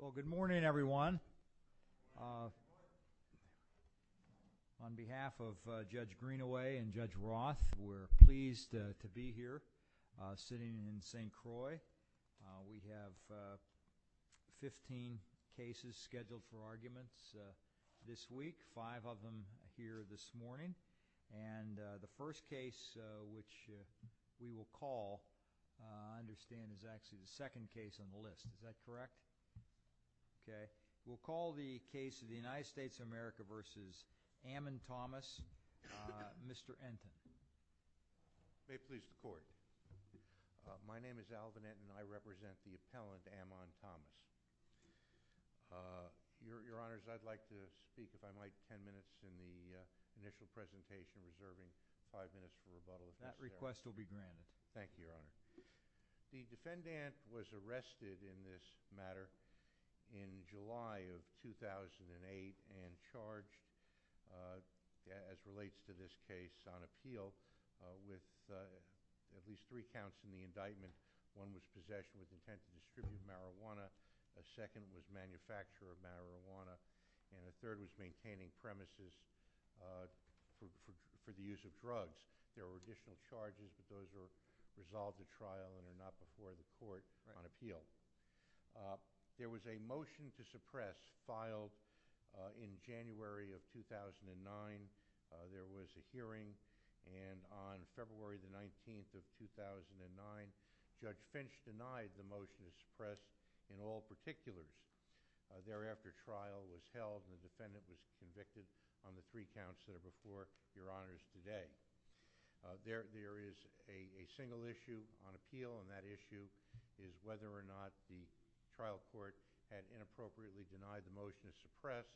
Well, good morning everyone. On behalf of Judge Greenaway and Judge Roth, we're pleased to be here sitting in St. Croix. We have 15 cases scheduled for arguments this week, five of them here this morning. And the first case which we will call, I understand, is actually the second case on the list. Is that correct? Okay. We'll call the case of the United States of America versus Ammon Thomas, Mr. Enten. Alvin Enten May I please report? My name is Alvin Enten. I represent the appellant, Ammon Thomas. Your Honor, I'd like to speak, if I might, ten minutes in the initial presentation, reserving five minutes for rebuttal. That request will be granted. Thank you, Your Honor. The defendant was arrested in this matter in July of 2008 and charged, as relates to this case, on appeal with at least three counts in the indictment. One was possession with intent to distribute marijuana. A second was manufacture of marijuana. And a third was maintaining premises for the use of drugs. There were additional charges, but those were resolved at trial and are not before the court on appeal. There was a motion to suppress filed in January of 2009. There was a hearing. And on February the 19th of 2009, Judge Finch denied the motion to suppress in all particulars. Thereafter, trial was held and the defendant was convicted on the three counts that are before Your Honors today. There is a single issue on appeal, and that issue is whether or not the trial court had inappropriately denied the motion to suppress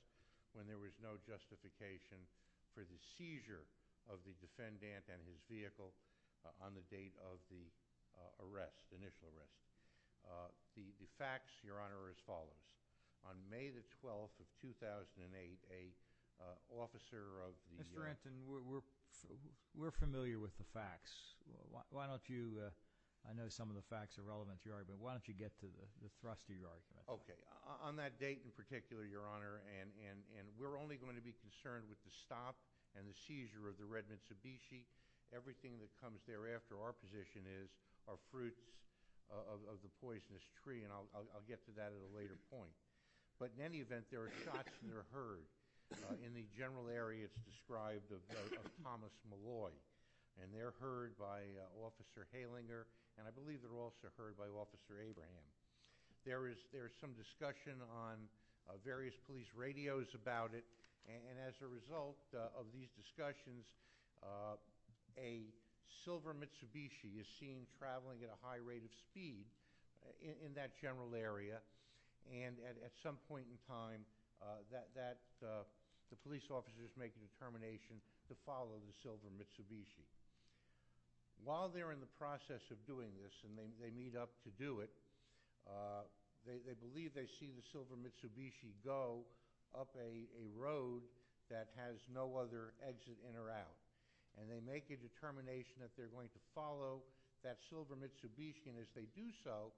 when there was no justification for the seizure of the defendant and his vehicle on the date of the arrest, initial arrest. The facts, Your Honor, are as follows. On May the 12th of 2008, an officer of the U.S. Mr. Anton, we're familiar with the facts. Why don't you – I know some of the facts are relevant to your argument. Why don't you get to the thrust of your argument? Okay. On that date in particular, Your Honor, and we're only going to be concerned with the stop and the seizure of the red Mitsubishi. Everything that comes thereafter, our position is, are fruits of the poisonous tree, and I'll get to that at a later point. But in any event, there are shots that are heard in the general areas described of Thomas Malloy, and they're heard by Officer Halinger, and I believe they're also heard by Officer Abraham. There is some discussion on various police radios about it, and as a result of these discussions, a silver Mitsubishi is seen traveling at a high rate of speed in that general area, and at some point in time, the police officer is making a determination to follow the silver Mitsubishi. While they're in the process of doing this, and they meet up to do it, they believe they see the silver Mitsubishi go up a road that has no other exit in or out, and they make a determination that they're going to follow that silver Mitsubishi, and as they do so,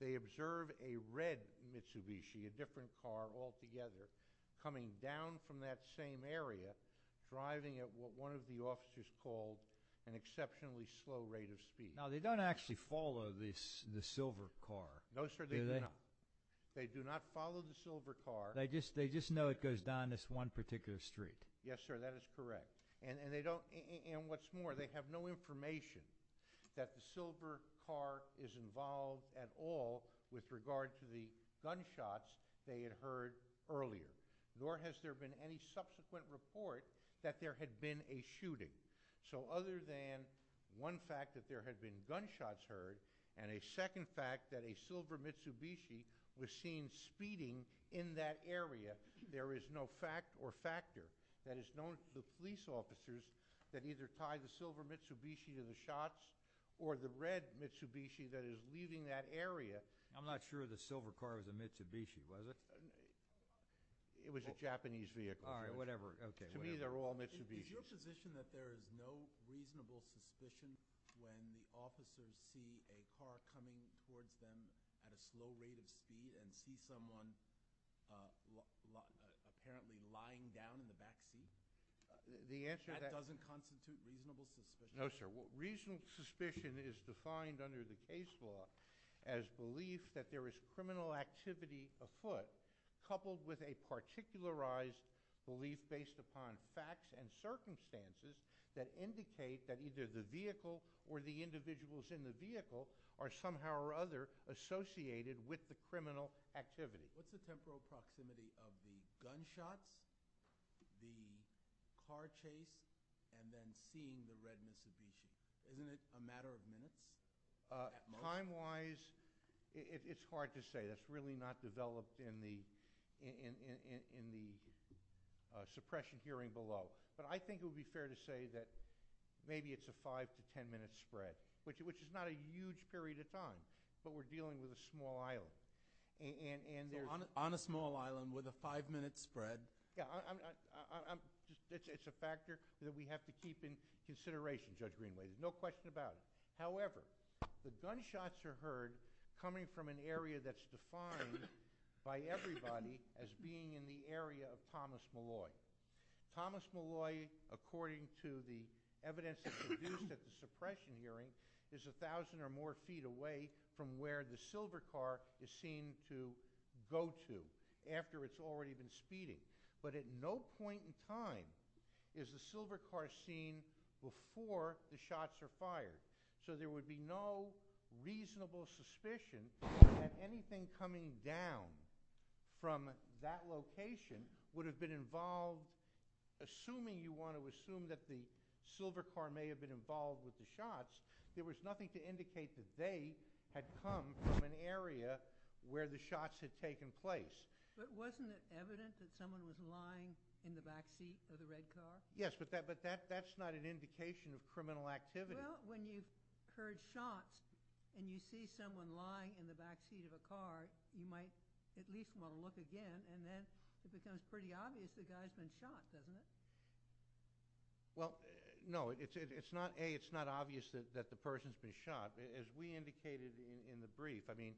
they observe a red Mitsubishi, a different car altogether, coming down from that same area, driving at what one of the officers called an exceptionally slow rate of speed. Now, they don't actually follow the silver car, do they? No, sir, they do not. They do not follow the silver car. They just know it goes down this one particular street. Yes, sir, that is correct. And what's more, they have no information that the silver car is involved at all with regard to the gunshots they had heard earlier, nor has there been any subsequent report that there had been a shooting. So other than one fact that there had been gunshots heard, and a second fact that a silver Mitsubishi was seen speeding in that area, there is no fact or factor that is known to the police officers that either tie the silver Mitsubishi to the shots, or the red Mitsubishi that is leaving that area. I'm not sure the silver car was a Mitsubishi, was it? It was a Japanese vehicle. All right, whatever. To me, they're all Mitsubishis. Is your position that there is no reasonable suspicion when the officers see a car coming towards them at a slow rate of speed and see someone apparently lying down in the backseat? That doesn't constitute reasonable suspicion. No, sir. Reasonable suspicion is defined under the case law as belief that there is criminal activity afoot, coupled with a particularized belief based upon facts and circumstances that indicate that either the vehicle or the individuals in the vehicle are somehow or other associated with the criminal activity. What's the temporal proximity of the gunshots, the car chase, and then seeing the red Mitsubishi? Isn't it a matter of minutes at most? Time-wise, it's hard to say. That's really not developed in the suppression hearing below. But I think it would be fair to say that maybe it's a 5 to 10-minute spread, which is not a huge period of time, but we're dealing with a small island. On a small island with a 5-minute spread? It's a factor that we have to keep in consideration, Judge Greenway. There's no question about it. However, the gunshots are heard coming from an area that's defined by everybody as being in the area of Thomas Malloy. Thomas Malloy, according to the evidence that's produced at the suppression hearing, is 1,000 or more feet away from where the silver car is seen to go to after it's already been speeding. But at no point in time is the silver car seen before the shots are fired. So there would be no reasonable suspicion that anything coming down from that location would have been involved. Assuming you want to assume that the silver car may have been involved with the shots, there was nothing to indicate that they had come from an area where the shots had taken place. But wasn't it evident that someone was lying in the backseat of the red car? Yes, but that's not an indication of criminal activity. Well, when you've heard shots and you see someone lying in the backseat of a car, you might at least want to look again. And then it becomes pretty obvious the guy's been shot, doesn't it? Well, no. A, it's not obvious that the person's been shot. As we indicated in the brief, I mean,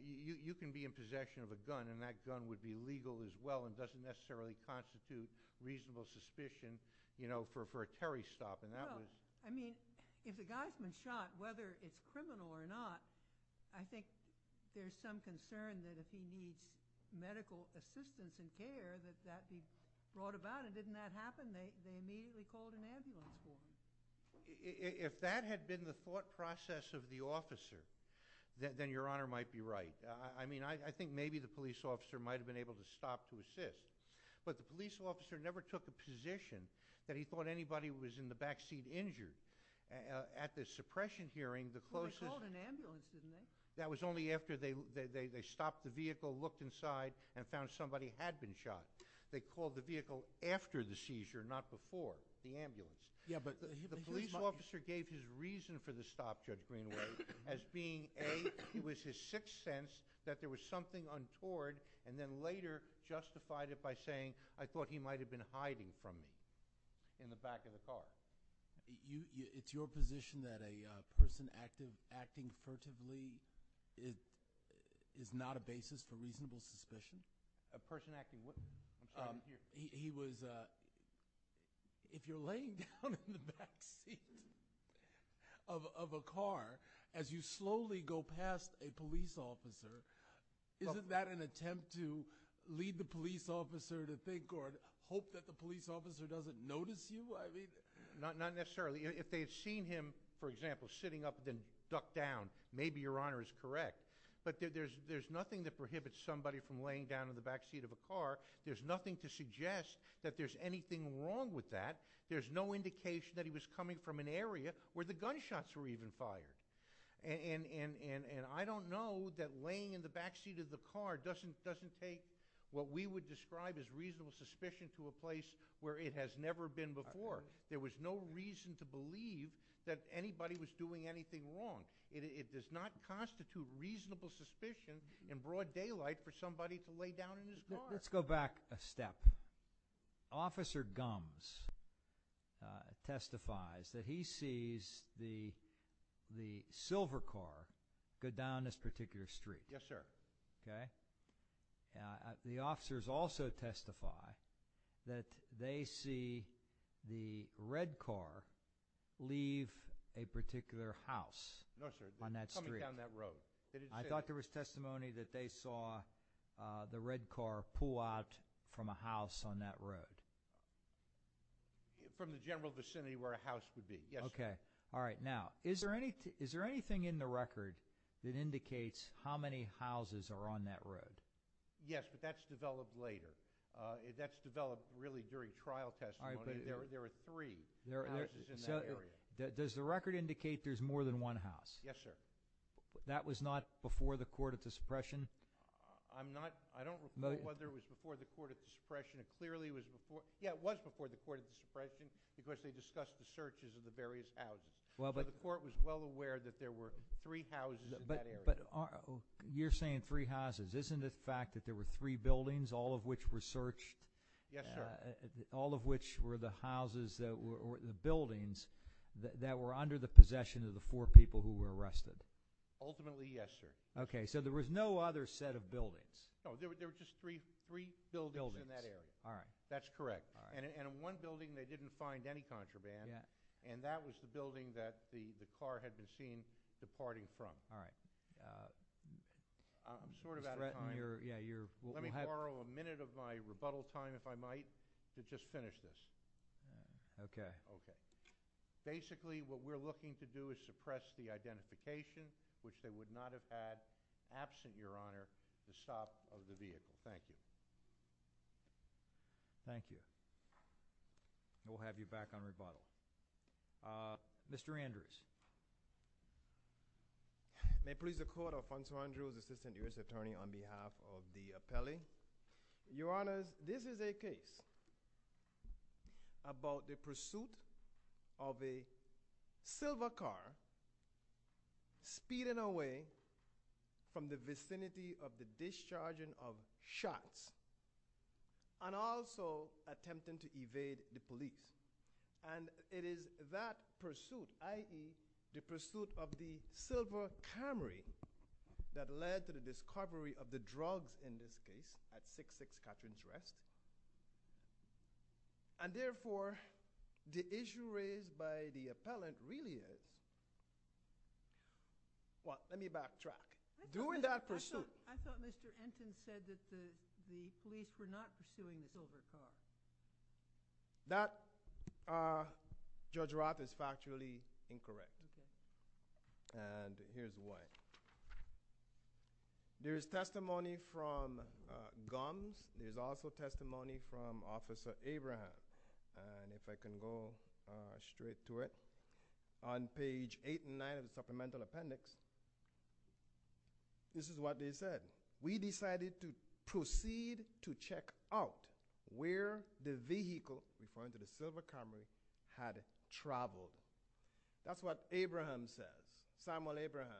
you can be in possession of a gun and that gun would be legal as well and doesn't necessarily constitute reasonable suspicion for a carry stop. Well, I mean, if the guy's been shot, whether it's criminal or not, I think there's some concern that if he needs medical assistance and care, that that be brought about. And didn't that happen? They immediately called an ambulance. If that had been the thought process of the officer, then Your Honor might be right. I mean, I think maybe the police officer might have been able to stop to assist. But the police officer never took a position that he thought anybody was in the backseat injured. At the suppression hearing, the closest— Well, they called an ambulance, didn't they? That was only after they stopped the vehicle, looked inside, and found somebody had been shot. They called the vehicle after the seizure, not before, the ambulance. Yeah, but— The police officer gave his reason for the stop, Judge Greenway, as being A, it was his sixth sense that there was something untoward, and then later justified it by saying, I thought he might have been hiding from me in the back of the car. It's your position that a person acting furtively is not a basis for reasonable suspicion? A person acting what? He was— If you're laying down in the backseat of a car as you slowly go past a police officer, isn't that an attempt to lead the police officer to think or hope that the police officer doesn't notice you? Not necessarily. If they had seen him, for example, sitting up and then ducked down, maybe Your Honor is correct. But there's nothing that prohibits somebody from laying down in the backseat of a car. There's nothing to suggest that there's anything wrong with that. There's no indication that he was coming from an area where the gunshots were even fired. And I don't know that laying in the backseat of the car doesn't take what we would describe as reasonable suspicion to a place where it has never been before. There was no reason to believe that anybody was doing anything wrong. It does not constitute reasonable suspicion in broad daylight for somebody to lay down in his car. Let's go back a step. Officer Gumbs testifies that he sees the silver car go down this particular street. Yes, sir. Okay. The officers also testify that they see the red car leave a particular house on that street. No, sir. Coming down that road. I thought there was testimony that they saw the red car pull out from a house on that road. From the general vicinity where a house could be. Yes, sir. Okay. All right. Now, is there anything in the record that indicates how many houses are on that road? Yes, but that's developed later. That's developed really during trial testimony. There were three houses in that area. Does the record indicate there's more than one house? Yes, sir. That was not before the Court of Dispression? I don't know whether it was before the Court of Dispression. Yeah, it was before the Court of Dispression because they discussed the searches of the various houses. The court was well aware that there were three houses in that area. But you're saying three houses. Isn't it a fact that there were three buildings, all of which were searched? Yes, sir. All of which were the houses that were under the possession of the four people who were arrested? Ultimately, yes, sir. Okay. So there was no other set of buildings? No, there were just three buildings in that area. All right. That's correct. And in one building they didn't find any contraband, and that was the building that the car had been seen departing from. All right. I'm sort of out of time. Let me borrow a minute of my rebuttal time, if I might, to just finish this. Okay. Okay. Basically, what we're looking to do is suppress the identification, which they would not have had absent, Your Honor, the stop of the vehicle. Thank you. Thank you. And we'll have you back on rebuttal. Mr. Andrews. May it please the Court, Alfonso Andrews, Assistant U.S. Attorney, on behalf of the appellee. Your Honors, this is a case about the pursuit of a silver car speeding away from the vicinity of the discharging of shots and also attempting to evade the police. And it is that pursuit, i.e., the pursuit of the silver Camry that led to the discovery of the drugs in this case at 6-6 Catrin's Rest. And therefore, the issue raised by the appellant really is, well, let me backtrack. During that pursuit- I thought Mr. Ensign said that the police were not pursuing the silver car. That, Judge Roth, is factually incorrect. Okay. And here's why. There's testimony from Gums. There's also testimony from Officer Abraham. And if I can go straight to it. On page 8 and 9 of the supplemental appendix, this is what they said. We decided to proceed to check out where the vehicle, referring to the silver Camry, had traveled. That's what Abraham says. Samuel Abraham.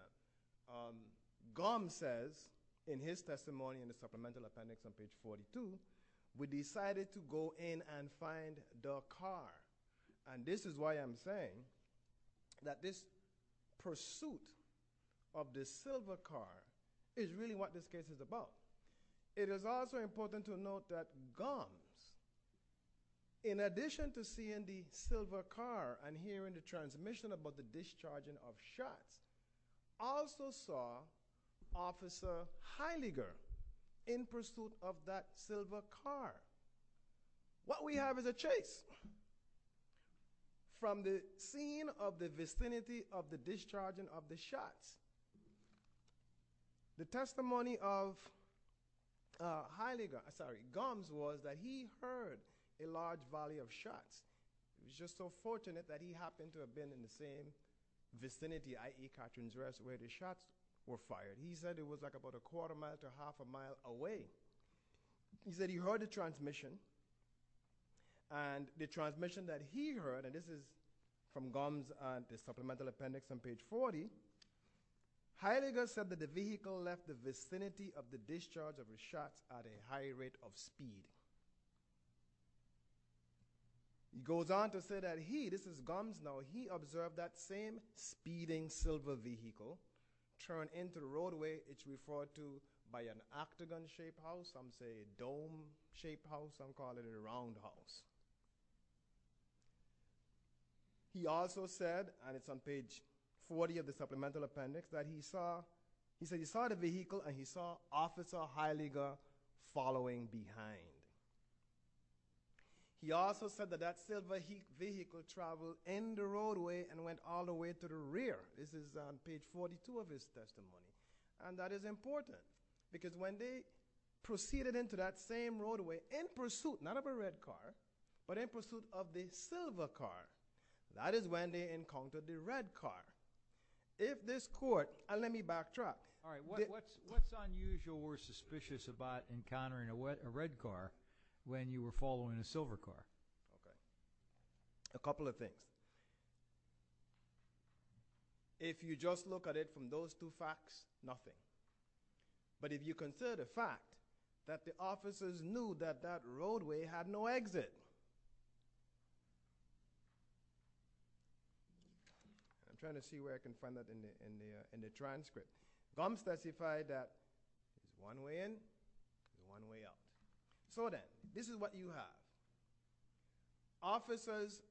Gums says, in his testimony in the supplemental appendix on page 42, we decided to go in and find the car. And this is why I'm saying that this pursuit of the silver car is really what this case is about. It is also important to note that Gums, in addition to seeing the silver car and hearing the transmission about the discharging of shots, also saw Officer Heidegger in pursuit of that silver car. What we have is a chase from the scene of the vicinity of the discharging of the shots. The testimony of Gums was that he heard a large valley of shots. He was just so fortunate that he happened to have been in the same vicinity, i.e., Katrin's Rest, where the shots were fired. He said it was about a quarter mile to half a mile away. He said he heard the transmission. And the transmission that he heard, and this is from Gums and the supplemental appendix on page 40, Heidegger said that the vehicle left the vicinity of the discharge of the shots at a high rate of speed. He goes on to say that he, this is Gums, now he observed that same speeding silver vehicle turn into the roadway, which is referred to by an octagon-shaped house, some say a dome-shaped house, some call it a round house. He also said, and it's on page 40 of the supplemental appendix, that he saw the vehicle and he saw Officer Heidegger following behind. He also said that that silver vehicle traveled in the roadway and went all the way to the rear. This is on page 42 of his testimony. And that is important, because when they proceeded into that same roadway in pursuit, not of a red car, but in pursuit of the silver car, that is when they encountered the red car. If this court, and let me backtrack. What's unusual or suspicious about encountering a red car when you were following a silver car? A couple of things. If you just look at it from those two facts, nothing. But if you consider the fact that the officers knew that that roadway had no exit. I'm trying to see where I can find that in the transcript. Gums specified that one way in, one way out. So then, this is what you have. Officers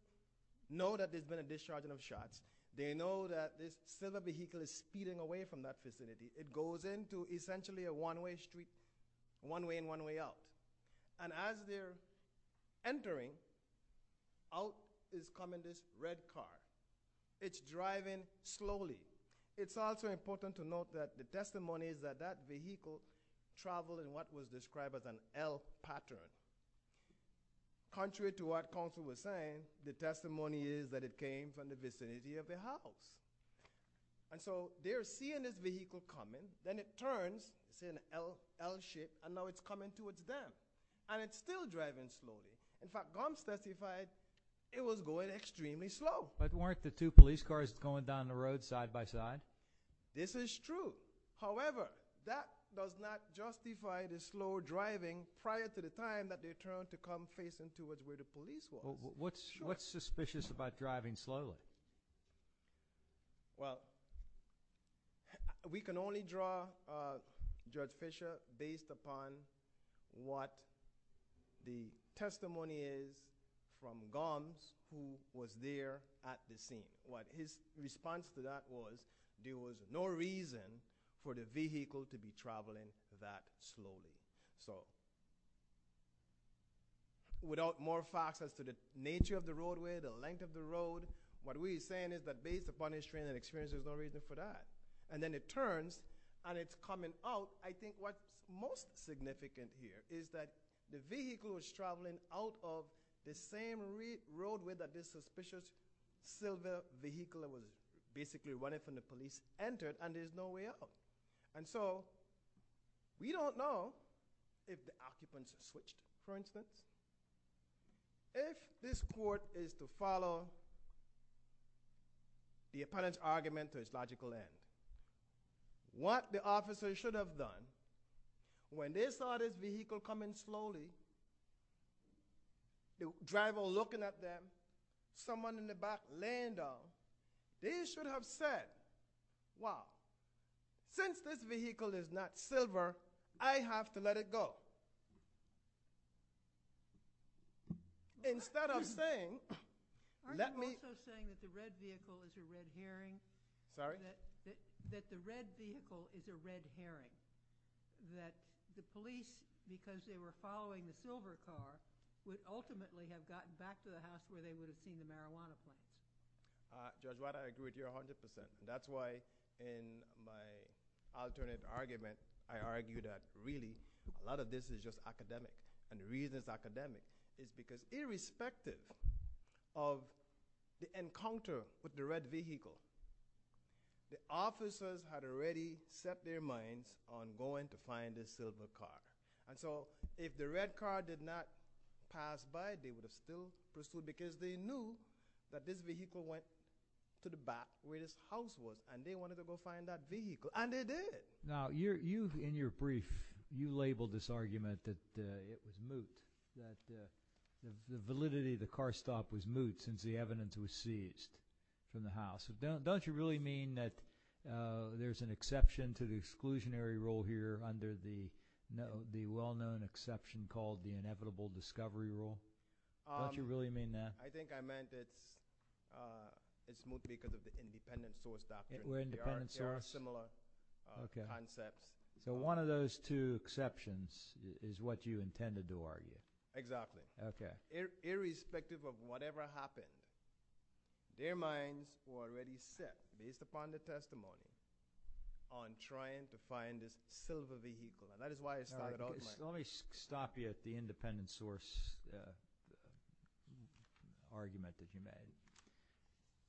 know that there's been a discharging of shots. They know that this silver vehicle is speeding away from that vicinity. It goes into essentially a one way street, one way in, one way out. And as they're entering, out is coming this red car. It's driving slowly. It's also important to note that the testimony is that that vehicle traveled in what was described as an L pattern. Contrary to what counsel was saying, the testimony is that it came from the vicinity of the house. And so, they're seeing this vehicle coming. Then it turns, see an L shape, and now it's coming towards them. And it's still driving slowly. In fact, Gums specified it was going extremely slow. But weren't the two police cars going down the road side by side? This is true. However, that does not justify the slow driving prior to the time that they turned to come face into it where the police were. What's suspicious about driving slowly? Well, we can only draw Judge Fisher based upon what the testimony is from Gums who was there at the scene. His response to that was there was no reason for the vehicle to be traveling that slowly. So, without more facts as to the nature of the roadway, the length of the road, what we're saying is that based upon his training and experience, there's no reason for that. And then it turns, and it's coming out. So, I think what's most significant here is that the vehicle was traveling out of the same roadway that this suspicious silver vehicle was basically running from the police entered, and there's no way out. And so, we don't know if the occupants switched, for instance. If this court is to follow the opponent's argument to its logical end, what the officer should have done when they saw this vehicle coming slowly, the driver looking at them, someone in the back laying down, they should have said, wow, since this vehicle is not silver, I have to let it go. Instead of saying, let me- That the red vehicle is a red herring. That the police, because they were following the silver car, would ultimately have gotten back to the house where they would have seen the marijuana plant. Judge White, I agree with you 100%. That's why in my alternative argument, I argue that really a lot of this is just academic. And the reason it's academic is because irrespective of the encounter with the red vehicle, the officers had already set their minds on going to find this silver car. And so, if the red car did not pass by, they would have still pursued, because they knew that this vehicle went to the back where this house was, and they wanted to go find that vehicle, and they did. Now, you, in your brief, you labeled this argument that it was moot, that the validity of the car stop was moot since the evidence was seized from the house. Don't you really mean that there's an exception to the exclusionary rule here under the well-known exception called the inevitable discovery rule? Don't you really mean that? I think I meant it's moot because of the independent source doctrine. They are a similar concept. So one of those two exceptions is what you intended to argue. Exactly. Okay. Irrespective of whatever happened, their minds were already set, based upon the testimony, on trying to find this silver vehicle. And that is why it started out like that. Let me stop you at the independent source argument that you made.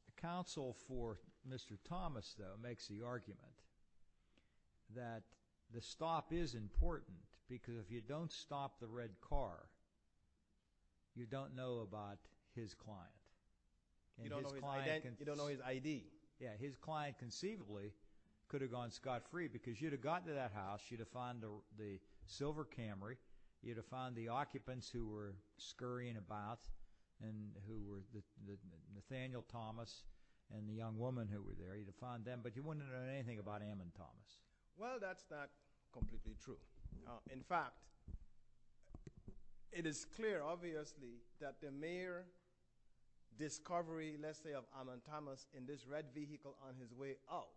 The counsel for Mr. Thomas, though, makes the argument that the stop is important because if you don't stop the red car, you don't know about his client. You don't know his ID. Yeah, his client conceivably could have gone scot-free because you'd have gotten to that house, you'd have found the silver Camry, you'd have found the occupants who were scurrying about, Nathaniel Thomas and the young woman who were there, you'd have found them, but you wouldn't have known anything about him and Thomas. Well, that's not completely true. In fact, it is clear, obviously, that the mere discovery, let's say, of Ammon Thomas in this red vehicle on his way out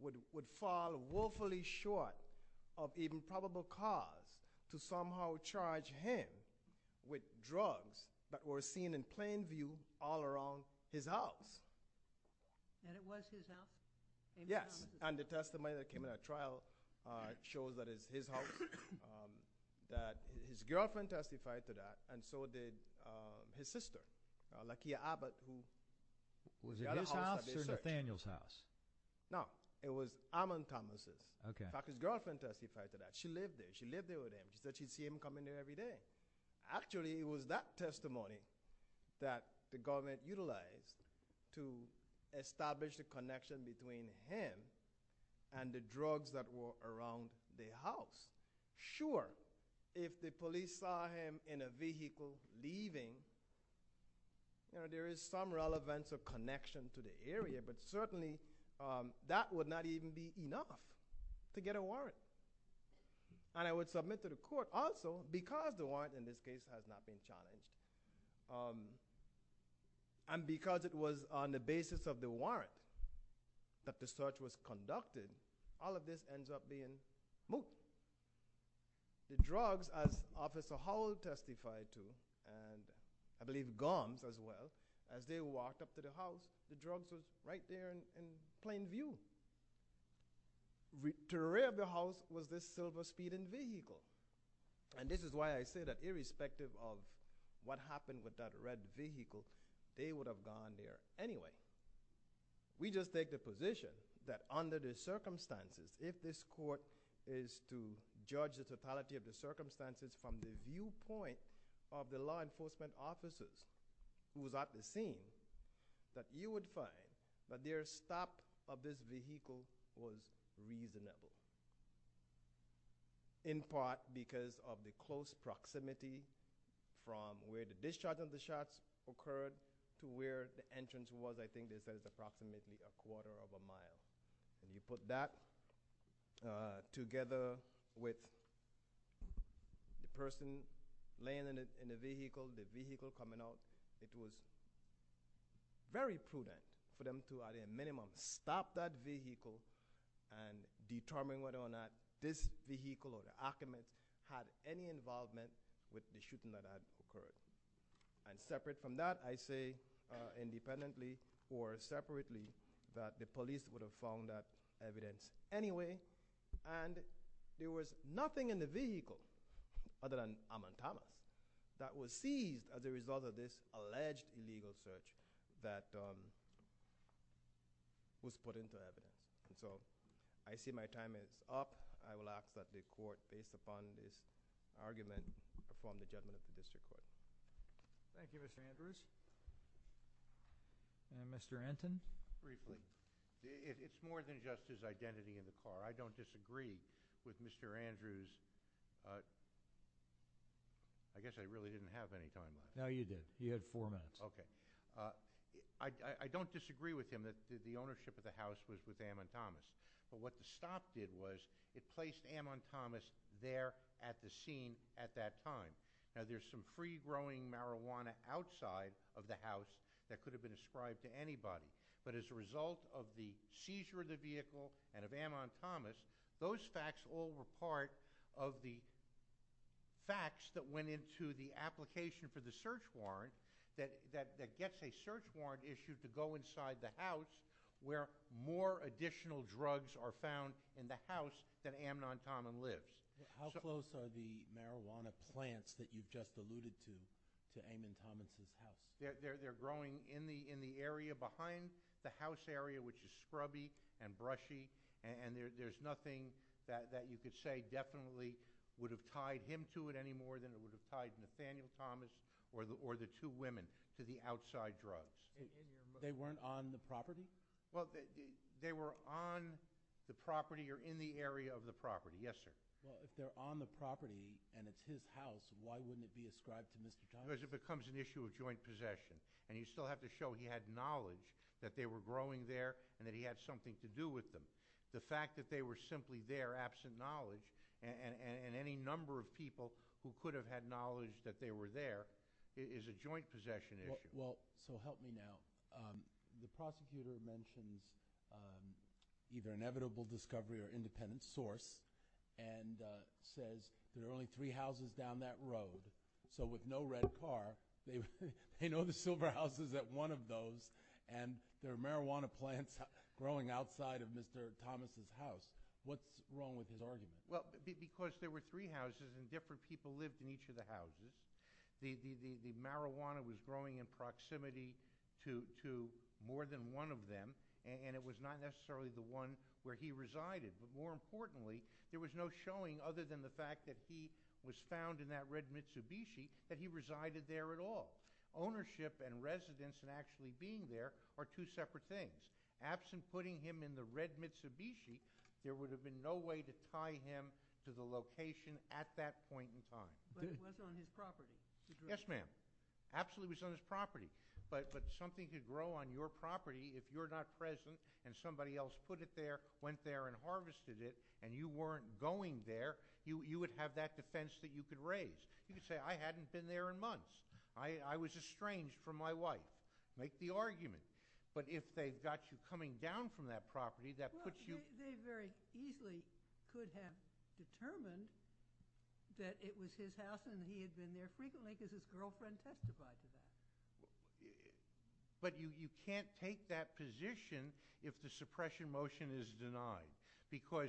would fall woefully short of the improbable cause to somehow charge him with drugs that were seen in plain view all around his house. And it was his house? Yes, and the testimony that came in our trial shows that it's his house, that his girlfriend testified to that, and so did his sister, Lakia Abbott. Was it his house or Nathaniel's house? No, it was Ammon Thomas's. Okay. In fact, his girlfriend testified to that. She lived there. She lived there with him. She said she'd see him come in there every day. Actually, it was that testimony that the government utilized to establish the connection between him and the drugs that were around the house. Sure, if the police saw him in a vehicle leaving, there is some relevance or connection to the area, but certainly that would not even be enough to get a warrant. And I would submit to the court also, because the warrant in this case has not been challenged, and because it was on the basis of the warrant that the search was conducted, all of this ends up being moot. The drugs, as Officer Howell testified to, and I believe Gomes as well, as they walked up to the house, the drugs were right there in plain view. The terrain of the house was this silver speeding vehicle. And this is why I say that irrespective of what happened with that red vehicle, they would have gone there anyway. We just take the position that under the circumstances, if this court is to judge the totality of the circumstances from the viewpoint of the law enforcement officers who was at the scene, that you would find that their stop of this vehicle was reasonable. In part because of the close proximity from where the discharge of the shots occurred to where the entrance was. I think they said it was approximately a quarter of a mile. And you put that together with the person laying in the vehicle, the vehicle coming out. It was very prudent for them to at a minimum stop that vehicle and determine whether or not this vehicle or the occupant had any involvement with the shooting that had occurred. And separate from that, I say independently or separately that the police would have found that evidence anyway. And there was nothing in the vehicle other than amatama that was seized as a result of this alleged illegal search that was put into evidence. And so I see my time is up. I will ask that the court, based upon this argument, perform the judgment of the district court. Thank you, Mr. Andrews. And Mr. Anton? Briefly. It's more than just his identity in the car. I don't disagree with Mr. Andrews. I guess I really didn't have any time. No, you did. You had four minutes. Okay. I don't disagree with him that the ownership of the house was with amatamas. But what the stop did was it placed amatamas there at the scene at that time. Now, there's some free-growing marijuana outside of the house that could have been ascribed to anybody. But as a result of the seizure of the vehicle and of amatamas, those facts all were part of the application for the search warrant that gets a search warrant issued to go inside the house where more additional drugs are found in the house that amatama lives. How close are the marijuana plants that you just alluded to, to amatamas in the house? They're growing in the area behind the house area, which is scrubby and brushy. There's nothing that you could say definitely would have tied him to it any more than it would have tied Nathaniel Thomas or the two women to the outside drugs. They weren't on the property? They were on the property or in the area of the property, yes, sir. If they're on the property and it's his house, why wouldn't it be ascribed to Mr. Thomas? Because it becomes an issue of joint possession. And you still have to show he had knowledge that they were growing there and that he had something to do with them. The fact that they were simply there absent knowledge and any number of people who could have had knowledge that they were there is a joint possession issue. Well, so help me now. The prosecutor mentions either inevitable discovery or independent source and says there are only three houses down that road. So with no red car, they know the silver house is at one of those and there are marijuana plants growing outside of Mr. Thomas' house. What's wrong with his argument? Well, because there were three houses and different people lived in each of the houses. The marijuana was growing in proximity to more than one of them and it was not necessarily the one where he resided. But more importantly, there was no showing other than the fact that he was found in that red Mitsubishi that he resided there at all. Ownership and residence and actually being there are two separate things. Absent putting him in the red Mitsubishi, there would have been no way to tie him to the location at that point in time. But it was on his property. Yes, ma'am. Absolutely it was on his property. But something could grow on your property if you're not present and somebody else put it there, went there and harvested it, and you weren't going there, you would have that defense that you could raise. You could say, I hadn't been there in months. I was estranged from my wife. Make the argument. But if they've got you coming down from that property, that puts you— Well, they very easily could have determined that it was his house and he had been there frequently because his girlfriend testified to that. But you can't take that position if the suppression motion is denied because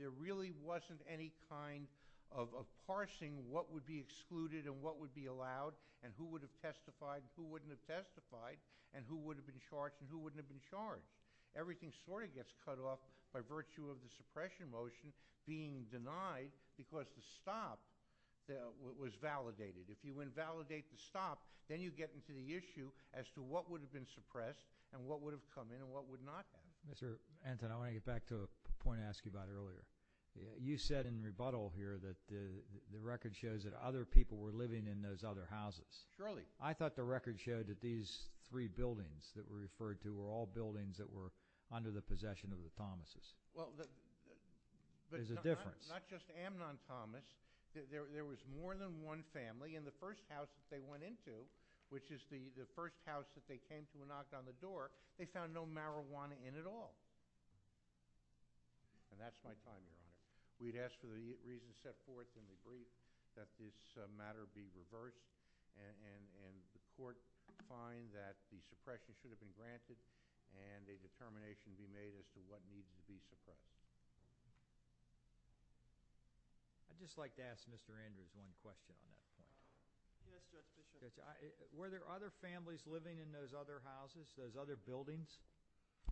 there really wasn't any kind of parsing, what would be excluded and what would be allowed and who would have testified and who wouldn't have testified and who would have been charged and who wouldn't have been charged. Everything sort of gets cut off by virtue of the suppression motion being denied because the stop was validated. If you invalidate the stop, then you get into the issue as to what would have been suppressed and what would have come in and what would not have. Mr. Anton, I want to get back to a point I asked you about earlier. You said in rebuttal here that the record shows that other people were living in those other houses. Surely. I thought the record showed that these three buildings that were referred to were all buildings that were under the possession of the Thomases. Well, the— There's a difference. Not just Amnon Thomas. There was more than one family in the first house that they went into, which is the first house that they came to and knocked on the door. They found no marijuana in at all. And that's my time, Your Honor. We'd ask for the reason set forth in the brief that this matter be reversed and the court find that the suppression should have been granted and a determination be made as to what needed to be suppressed. I'd just like to ask Mr. Anton one question on that. Yes, Your Honor. Were there other families living in those other houses, those other buildings?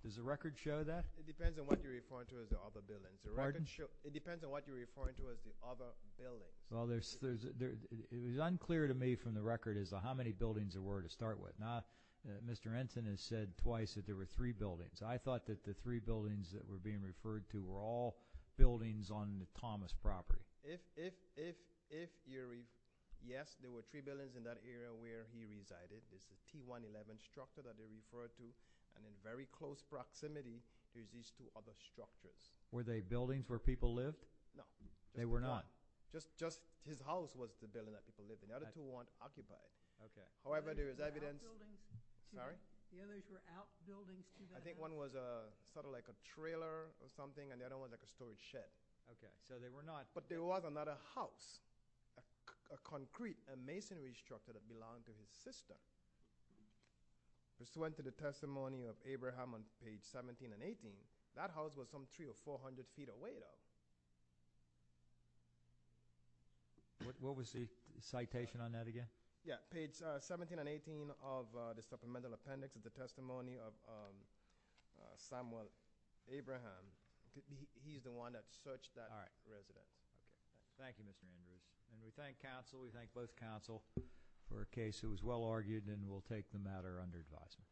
Does the record show that? It depends on what you're referring to as the other buildings. Pardon? It depends on what you're referring to as the other buildings. Well, it was unclear to me from the record as to how many buildings there were to start with. Mr. Anton has said twice that there were three buildings. I thought that the three buildings that were being referred to were all buildings on Thomas' property. If you're right, yes, there were three buildings in that area where he resided. This is T-111 structure that they referred to, and in very close proximity is these two other structures. Were they buildings where people lived? No. They were not? Just his house was the building that people lived in. The other two weren't occupied. Okay. However, there is evidence. Sorry? I think one was sort of like a trailer or something, and the other one was like a storage shed. Okay. So they were not. But there was another house, a concrete, a masonry structure that belonged to his sister. This went to the testimony of Abraham on page 17 and 18. That house was some 300 or 400 feet away, though. What was the citation on that again? Yeah, page 17 and 18 of the supplemental appendix of the testimony of Samuel Abraham. He's the one that searched that residence. All right. Thank you, Mr. Andrews. And we thank counsel. We thank both counsel for a case that was well argued, and we'll take the matter under advisement.